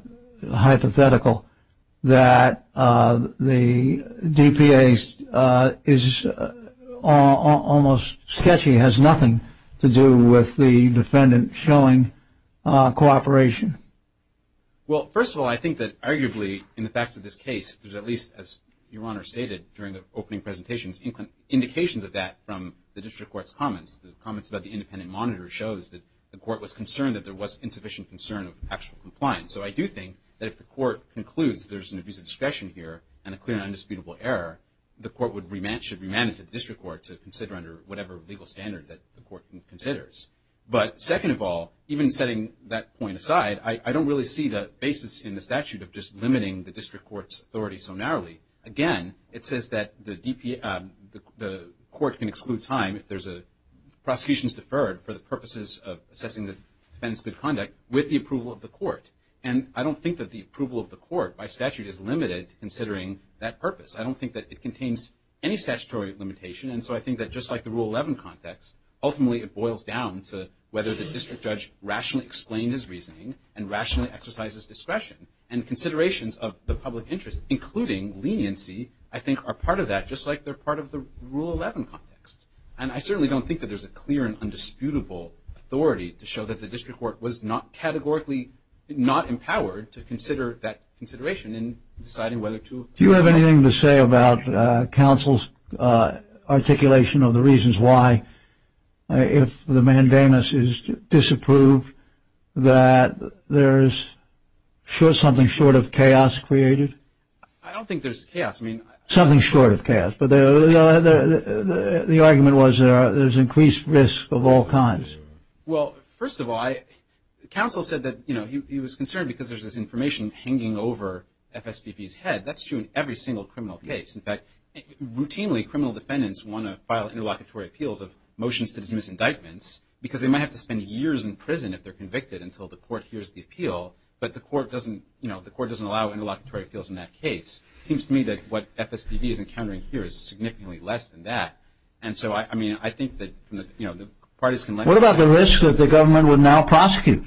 hypothetical that the DPA is almost sketchy, has nothing to do with the defendant showing cooperation. Well, first of all, I think that arguably, in the facts of this case, there's at least, as Your Honor stated during the opening presentations, indications of that from the district court's comments. The comments about the independent monitor shows that the court was concerned that there was insufficient concern of actual compliance. So I do think that if the court concludes there's an abuse of discretion here and a clear and indisputable error, the court should remand it to the district court to consider under whatever legal standard that the court considers. But second of all, even setting that point aside, I don't really see the basis in the statute of just limiting the district court's authority so narrowly. Again, it says that the court can exclude time if there's a prosecution deferred for the purposes of assessing the defendant's good conduct with the approval of the court. And I don't think that the approval of the court by statute is limited considering that purpose. I don't think that it contains any statutory limitation. And so I think that just like the Rule 11 context, ultimately it boils down to whether the district judge rationally explained his reasoning and rationally exercises discretion and considerations of the public interest, including leniency I think are part of that just like they're part of the Rule 11 context. And I certainly don't think that there's a clear and undisputable authority to show that the district court was not categorically not empowered to consider that consideration in deciding whether to approve it. Do you have anything to say about counsel's articulation of the reasons why, if the mandamus is disapproved, that there's something short of chaos created? I don't think there's chaos. Something short of chaos. But the argument was there's increased risk of all kinds. Well, first of all, counsel said that he was concerned because there's this information hanging over FSPP's head. That's true in every single criminal case. In fact, routinely criminal defendants want to file interlocutory appeals of motions to dismiss indictments because they might have to spend years in prison if they're convicted until the court hears the appeal. But the court doesn't allow interlocutory appeals in that case. It seems to me that what FSPP is encountering here is significantly less than that. And so, I mean, I think that the parties can let go. What about the risk that the government would now prosecute?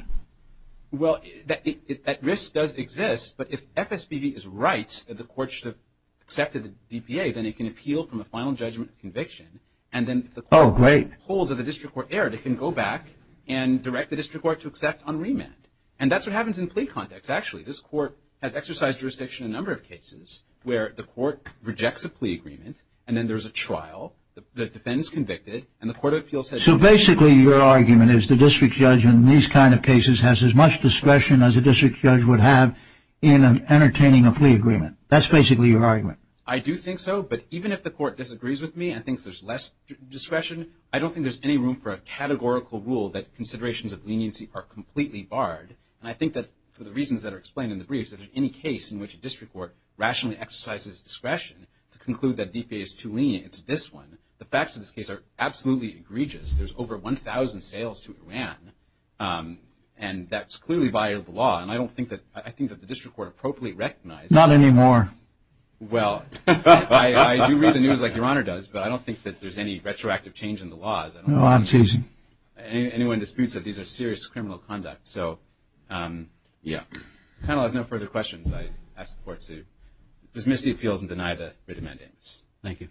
Well, that risk does exist. But if FSPP is right that the court should have accepted the DPA, then it can appeal from a final judgment of conviction. Oh, great. And then if the court pulls that the district court erred, it can go back and direct the district court to accept on remand. And that's what happens in plea context, actually. This court has exercised jurisdiction in a number of cases where the court rejects a plea agreement, and then there's a trial, the defendant's convicted, and the court of appeals says… So, basically, your argument is the district judge in these kind of cases has as much discretion as a district judge would have in entertaining a plea agreement. That's basically your argument. I do think so. But even if the court disagrees with me and thinks there's less discretion, I don't think there's any room for a categorical rule that considerations of leniency are completely barred. And I think that for the reasons that are explained in the briefs, if there's any case in which a district court rationally exercises discretion to conclude that DPA is too lenient, it's this one. The facts of this case are absolutely egregious. There's over 1,000 sales to Iran, and that's clearly by the law. And I don't think that the district court appropriately recognizes that. Not anymore. Well, I do read the news like Your Honor does, but I don't think that there's any retroactive change in the laws. No, I'm changing. Anyone disputes that these are serious criminal conduct. So, the panel has no further questions. I ask the court to dismiss the appeals and deny the written mandates. Thank you.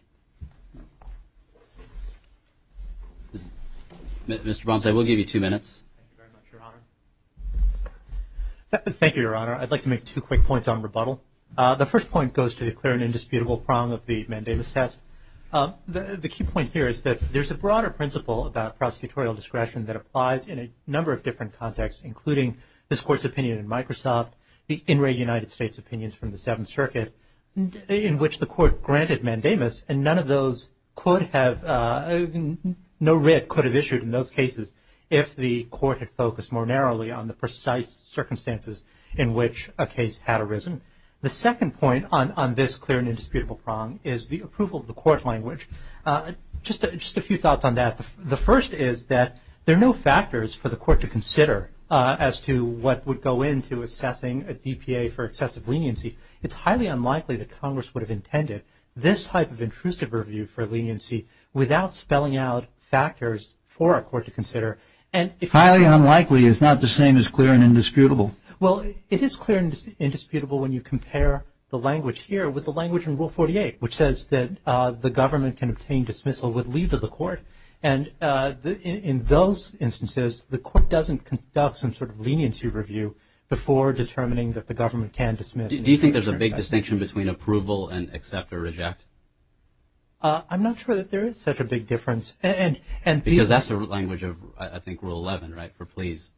Mr. Bronstein, we'll give you two minutes. Thank you very much, Your Honor. Thank you, Your Honor. I'd like to make two quick points on rebuttal. The first point goes to the clear and indisputable prong of the mandamus test. The key point here is that there's a broader principle about prosecutorial discretion that applies in a number of different contexts, including this Court's opinion in Microsoft, the in re United States opinions from the Seventh Circuit, in which the court granted mandamus, and none of those could have, no writ could have issued in those cases if the court had focused more narrowly on the precise circumstances in which a case had arisen. The second point on this clear and indisputable prong is the approval of the court language. Just a few thoughts on that. The first is that there are no factors for the court to consider as to what would go into assessing a DPA for excessive leniency. It's highly unlikely that Congress would have intended this type of intrusive review for leniency without spelling out factors for a court to consider. Highly unlikely is not the same as clear and indisputable. Well, it is clear and indisputable when you compare the language here with the language in Rule 48, which says that the government can obtain dismissal with leave of the court. And in those instances, the court doesn't conduct some sort of leniency review before determining that the government can dismiss. Do you think there's a big distinction between approval and accept or reject? I'm not sure that there is such a big difference. Because that's the language of, I think, Rule 11, right, for please?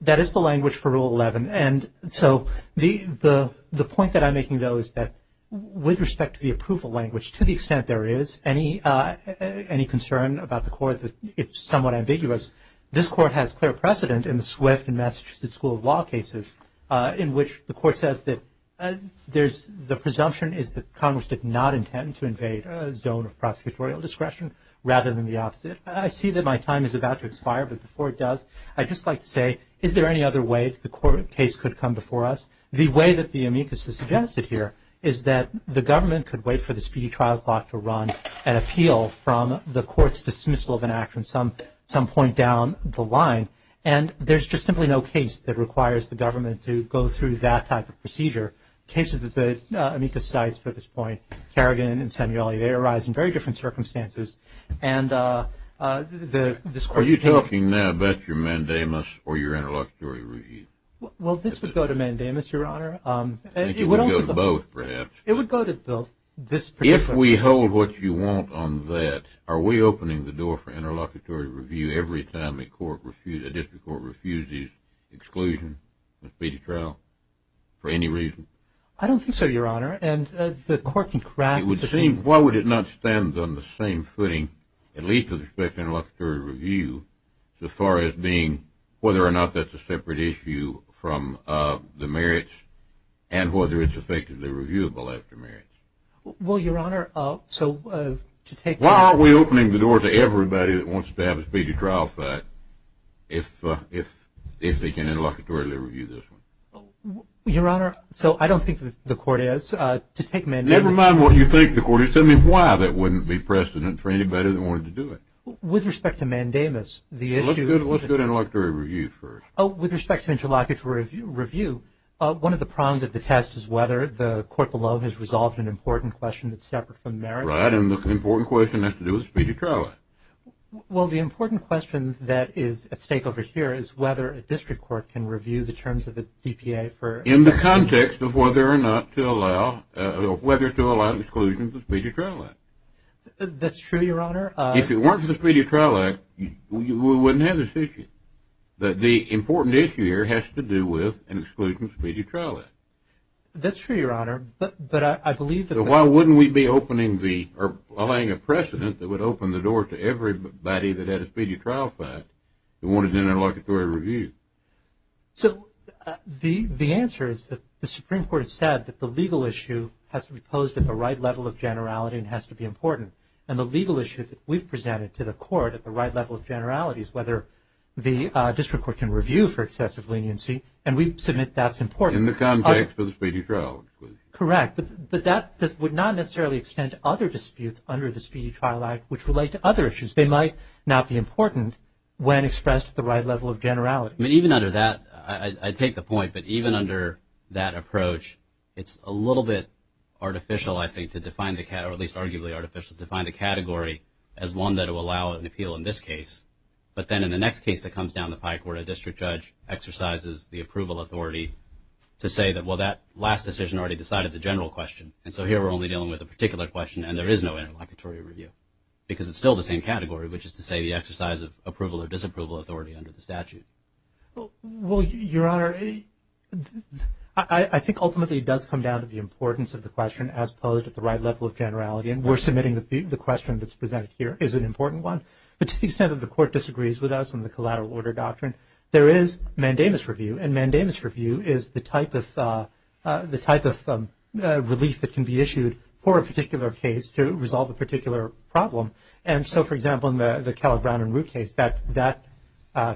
That is the language for Rule 11. And so the point that I'm making, though, is that with respect to the approval language, to the extent there is any concern about the court, it's somewhat ambiguous. Because this Court has clear precedent in the Swift and Massachusetts School of Law cases in which the court says that the presumption is that Congress did not intend to invade a zone of prosecutorial discretion rather than the opposite. I see that my time is about to expire, but before it does, I'd just like to say, is there any other way the court case could come before us? The way that the amicus is suggested here is that the government could wait for the speedy trial clock to run and appeal from the court's dismissal of an act from some point down the line. And there's just simply no case that requires the government to go through that type of procedure. Cases that the amicus cites at this point, Kerrigan and Samueli, they arise in very different circumstances. Are you talking now about your mandamus or your interlocutory read? Well, this would go to mandamus, Your Honor. It would go to both, perhaps. It would go to both. If we hold what you want on that, are we opening the door for interlocutory review every time a district court refuses exclusion in a speedy trial for any reason? I don't think so, Your Honor. Why would it not stand on the same footing, at least with respect to interlocutory review, so far as being whether or not that's a separate issue from the merits and whether it's effectively reviewable after merits? Well, Your Honor, so to take the… Why aren't we opening the door to everybody that wants to have a speedy trial fact if they can interlocutorily review this one? Your Honor, so I don't think the court has to take mandamus… Never mind what you think the court has to do. Tell me why that wouldn't be precedent for anybody that wanted to do it. With respect to mandamus, the issue… Let's go to interlocutory review first. With respect to interlocutory review, one of the prongs of the test is whether the court below has resolved an important question that's separate from merits. Right, and the important question has to do with the speedy trial act. Well, the important question that is at stake over here is whether a district court can review the terms of the DPA for… In the context of whether or not to allow, whether to allow exclusion for the speedy trial act. That's true, Your Honor. If it weren't for the speedy trial act, we wouldn't have this issue. The important issue here has to do with an exclusion of the speedy trial act. That's true, Your Honor, but I believe that… So why wouldn't we be opening the… allowing a precedent that would open the door to everybody that had a speedy trial fact that wanted an interlocutory review? So the answer is that the Supreme Court has said that the legal issue has to be posed at the right level of generality and has to be important, and the legal issue that we've presented to the court at the right level of generality is whether the district court can review for excessive leniency, and we submit that's important. In the context of the speedy trial. Correct, but that would not necessarily extend to other disputes under the speedy trial act which relate to other issues. They might not be important when expressed at the right level of generality. I mean, even under that, I take the point, but even under that approach, it's a little bit artificial, I think, to define the category, or at least arguably artificial, to define the category as one that will allow an appeal in this case, but then in the next case that comes down the pike where a district judge exercises the approval authority to say that, well, that last decision already decided the general question, and so here we're only dealing with a particular question and there is no interlocutory review because it's still the same category, which is to say the exercise of approval or disapproval authority under the statute. Well, Your Honor, I think ultimately it does come down to the importance of the question as posed at the right level of generality, and we're submitting the question that's presented here is an important one. But to the extent that the Court disagrees with us on the collateral order doctrine, there is mandamus review, and mandamus review is the type of relief that can be issued for a particular case to resolve a particular problem. And so, for example, in the Cal Brown and Root case, that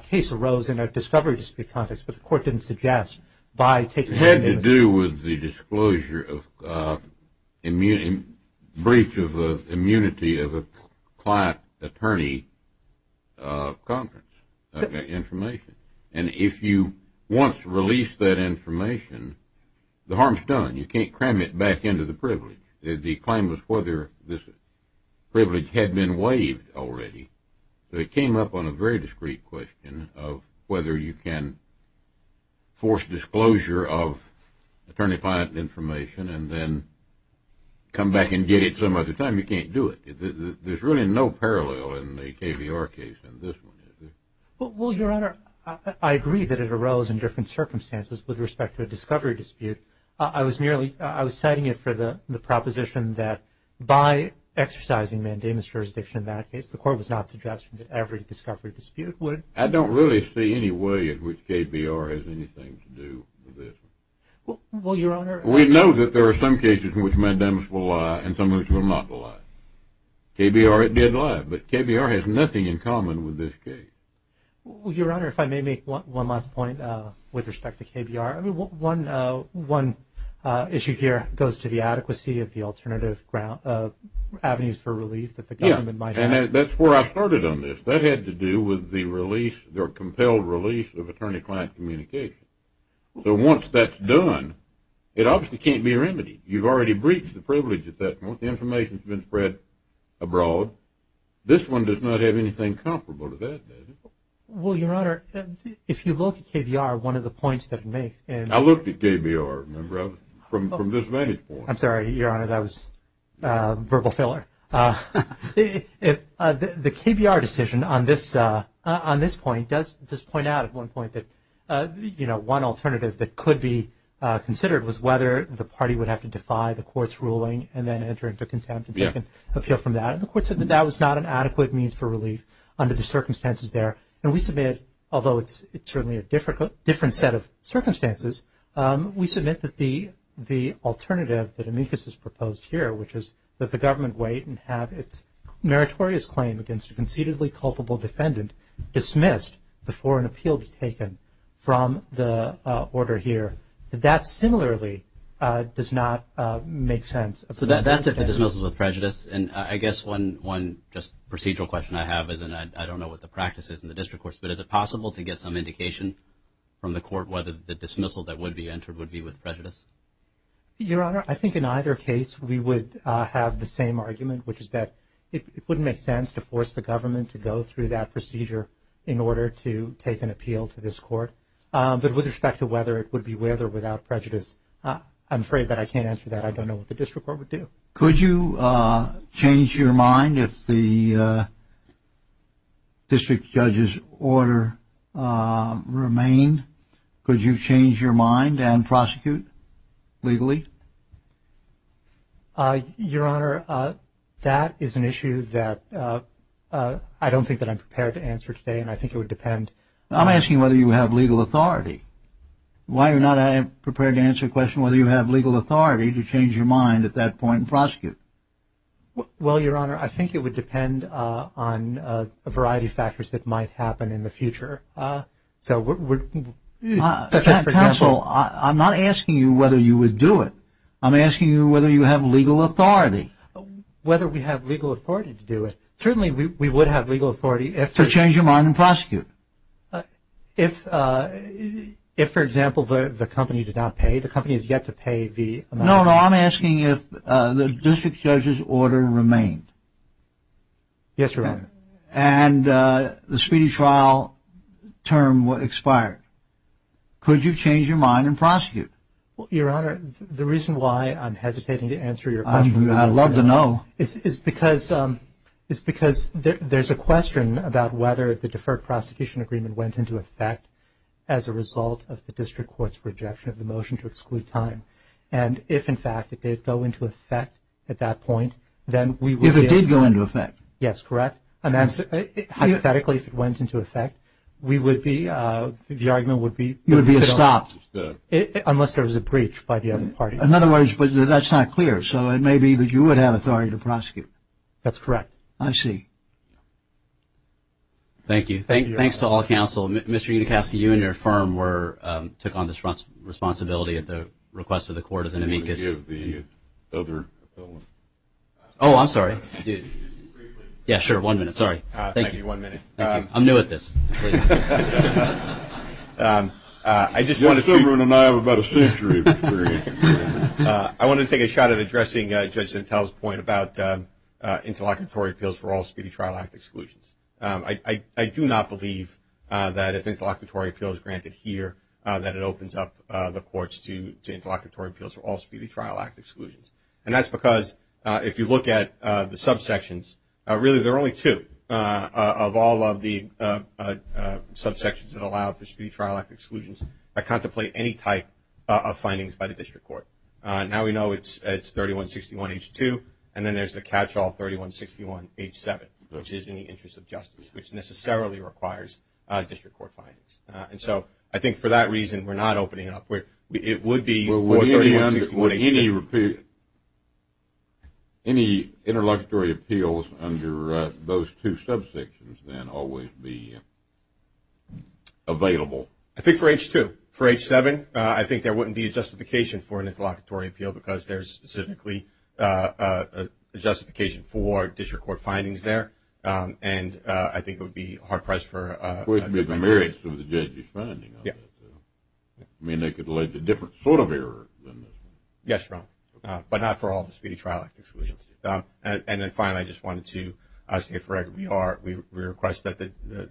case arose in a discovery dispute context, but the Court didn't suggest by taking the mandamus review. It had to do with the disclosure of breach of immunity of a client attorney conference information. And if you want to release that information, the harm is done. You can't cram it back into the privilege. The claim was whether this privilege had been waived already. So it came up on a very discreet question of whether you can force disclosure of attorney-client information and then come back and get it some other time. You can't do it. There's really no parallel in the KBR case than this one is. Well, Your Honor, I agree that it arose in different circumstances with respect to a discovery dispute. I was citing it for the proposition that by exercising mandamus jurisdiction in that case, the Court was not suggesting that every discovery dispute would. I don't really see any way in which KBR has anything to do with this. Well, Your Honor. We know that there are some cases in which mandamus will lie and some which will not lie. KBR, it did lie, but KBR has nothing in common with this case. Well, Your Honor, if I may make one last point with respect to KBR. One issue here goes to the adequacy of the alternative avenues for relief that the government might have. And that's where I started on this. That had to do with the release, their compelled release of attorney-client communication. So once that's done, it obviously can't be remedied. You've already breached the privilege at that point. The information has been spread abroad. This one does not have anything comparable to that, does it? Well, Your Honor, if you look at KBR, one of the points that it makes. I looked at KBR, remember, from this vantage point. I'm sorry, Your Honor. That was verbal filler. The KBR decision on this point does point out at one point that, you know, one alternative that could be considered was whether the party would have to defy the court's ruling and then enter into contempt and take an appeal from that. And the court said that that was not an adequate means for relief under the circumstances there. And we submit, although it's certainly a different set of circumstances, we submit that the alternative that amicus has proposed here, which is that the government wait and have its meritorious claim against a concededly culpable defendant dismissed before an appeal is taken from the order here, that that similarly does not make sense. So that's if it dismisses with prejudice. And I guess one just procedural question I have is, and I don't know what the practice is in the district courts, but is it possible to get some indication from the court whether the dismissal that would be entered would be with prejudice? Your Honor, I think in either case we would have the same argument, which is that it wouldn't make sense to force the government to go through that procedure in order to take an appeal to this court. But with respect to whether it would be with or without prejudice, I'm afraid that I can't answer that. I don't know what the district court would do. Could you change your mind if the district judge's order remained? Could you change your mind and prosecute legally? Your Honor, that is an issue that I don't think that I'm prepared to answer today, and I think it would depend. I'm asking whether you have legal authority. Why are you not prepared to answer the question whether you have legal authority to change your mind at that point and prosecute? Well, Your Honor, I think it would depend on a variety of factors that might happen in the future. Counsel, I'm not asking you whether you would do it. I'm asking you whether you have legal authority. Whether we have legal authority to do it. Certainly we would have legal authority. To change your mind and prosecute. If, for example, the company did not pay, the company has yet to pay the amount. No, no, I'm asking if the district judge's order remained. Yes, Your Honor. And the speedy trial term expired. Could you change your mind and prosecute? Well, Your Honor, the reason why I'm hesitating to answer your question. I'd love to know. Is because there's a question about whether the deferred prosecution agreement went into effect as a result of the district court's rejection of the motion to exclude time. And if, in fact, it did go into effect at that point, then we would be able to. If it did go into effect. Yes, correct. Hypothetically, if it went into effect, we would be, the argument would be. You would be stopped. Unless there was a breach by the other parties. In other words, but that's not clear. So it may be that you would have authority to prosecute. That's correct. I see. Thank you. Thanks to all counsel. Mr. Unicasky, you and your firm took on this responsibility at the request of the court as an amicus. Do you want to give the other? Oh, I'm sorry. Just briefly. Yeah, sure. One minute. Sorry. Thank you. Thank you. One minute. I'm new at this. Yes, everyone and I have about a century of experience. I want to take a shot at addressing Judge Sentel's point about interlocutory appeals for all speedy trial act exclusions. I do not believe that if interlocutory appeal is granted here, that it opens up the courts to interlocutory appeals for all speedy trial act exclusions. And that's because if you look at the subsections, really there are only two. Of all of the subsections that allow for speedy trial act exclusions, I contemplate any type of findings by the district court. Now we know it's 3161H2, and then there's the catch-all 3161H7, which is in the interest of justice, which necessarily requires district court findings. And so I think for that reason we're not opening it up. Well, would any interlocutory appeals under those two subsections then always be available? I think for H2. For H7, I think there wouldn't be a justification for an interlocutory appeal because there's specifically a justification for district court findings there. And I think it would be hard-pressed for. I mean, they could lead to a different sort of error. Yes, Your Honor. But not for all the speedy trial act exclusions. And then finally, I just wanted to say, for record, we request that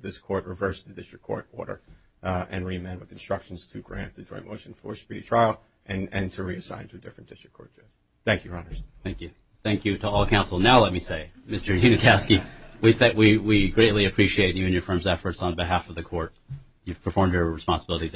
this court reverse the district court order and reamend with instructions to grant the joint motion for speedy trial and to reassign to a different district court judge. Thank you, Your Honor. Thank you. Thank you to all counsel. Now let me say, Mr. Unikowsky, we greatly appreciate you and your firm's efforts on behalf of the court. You've performed your responsibilities admirably.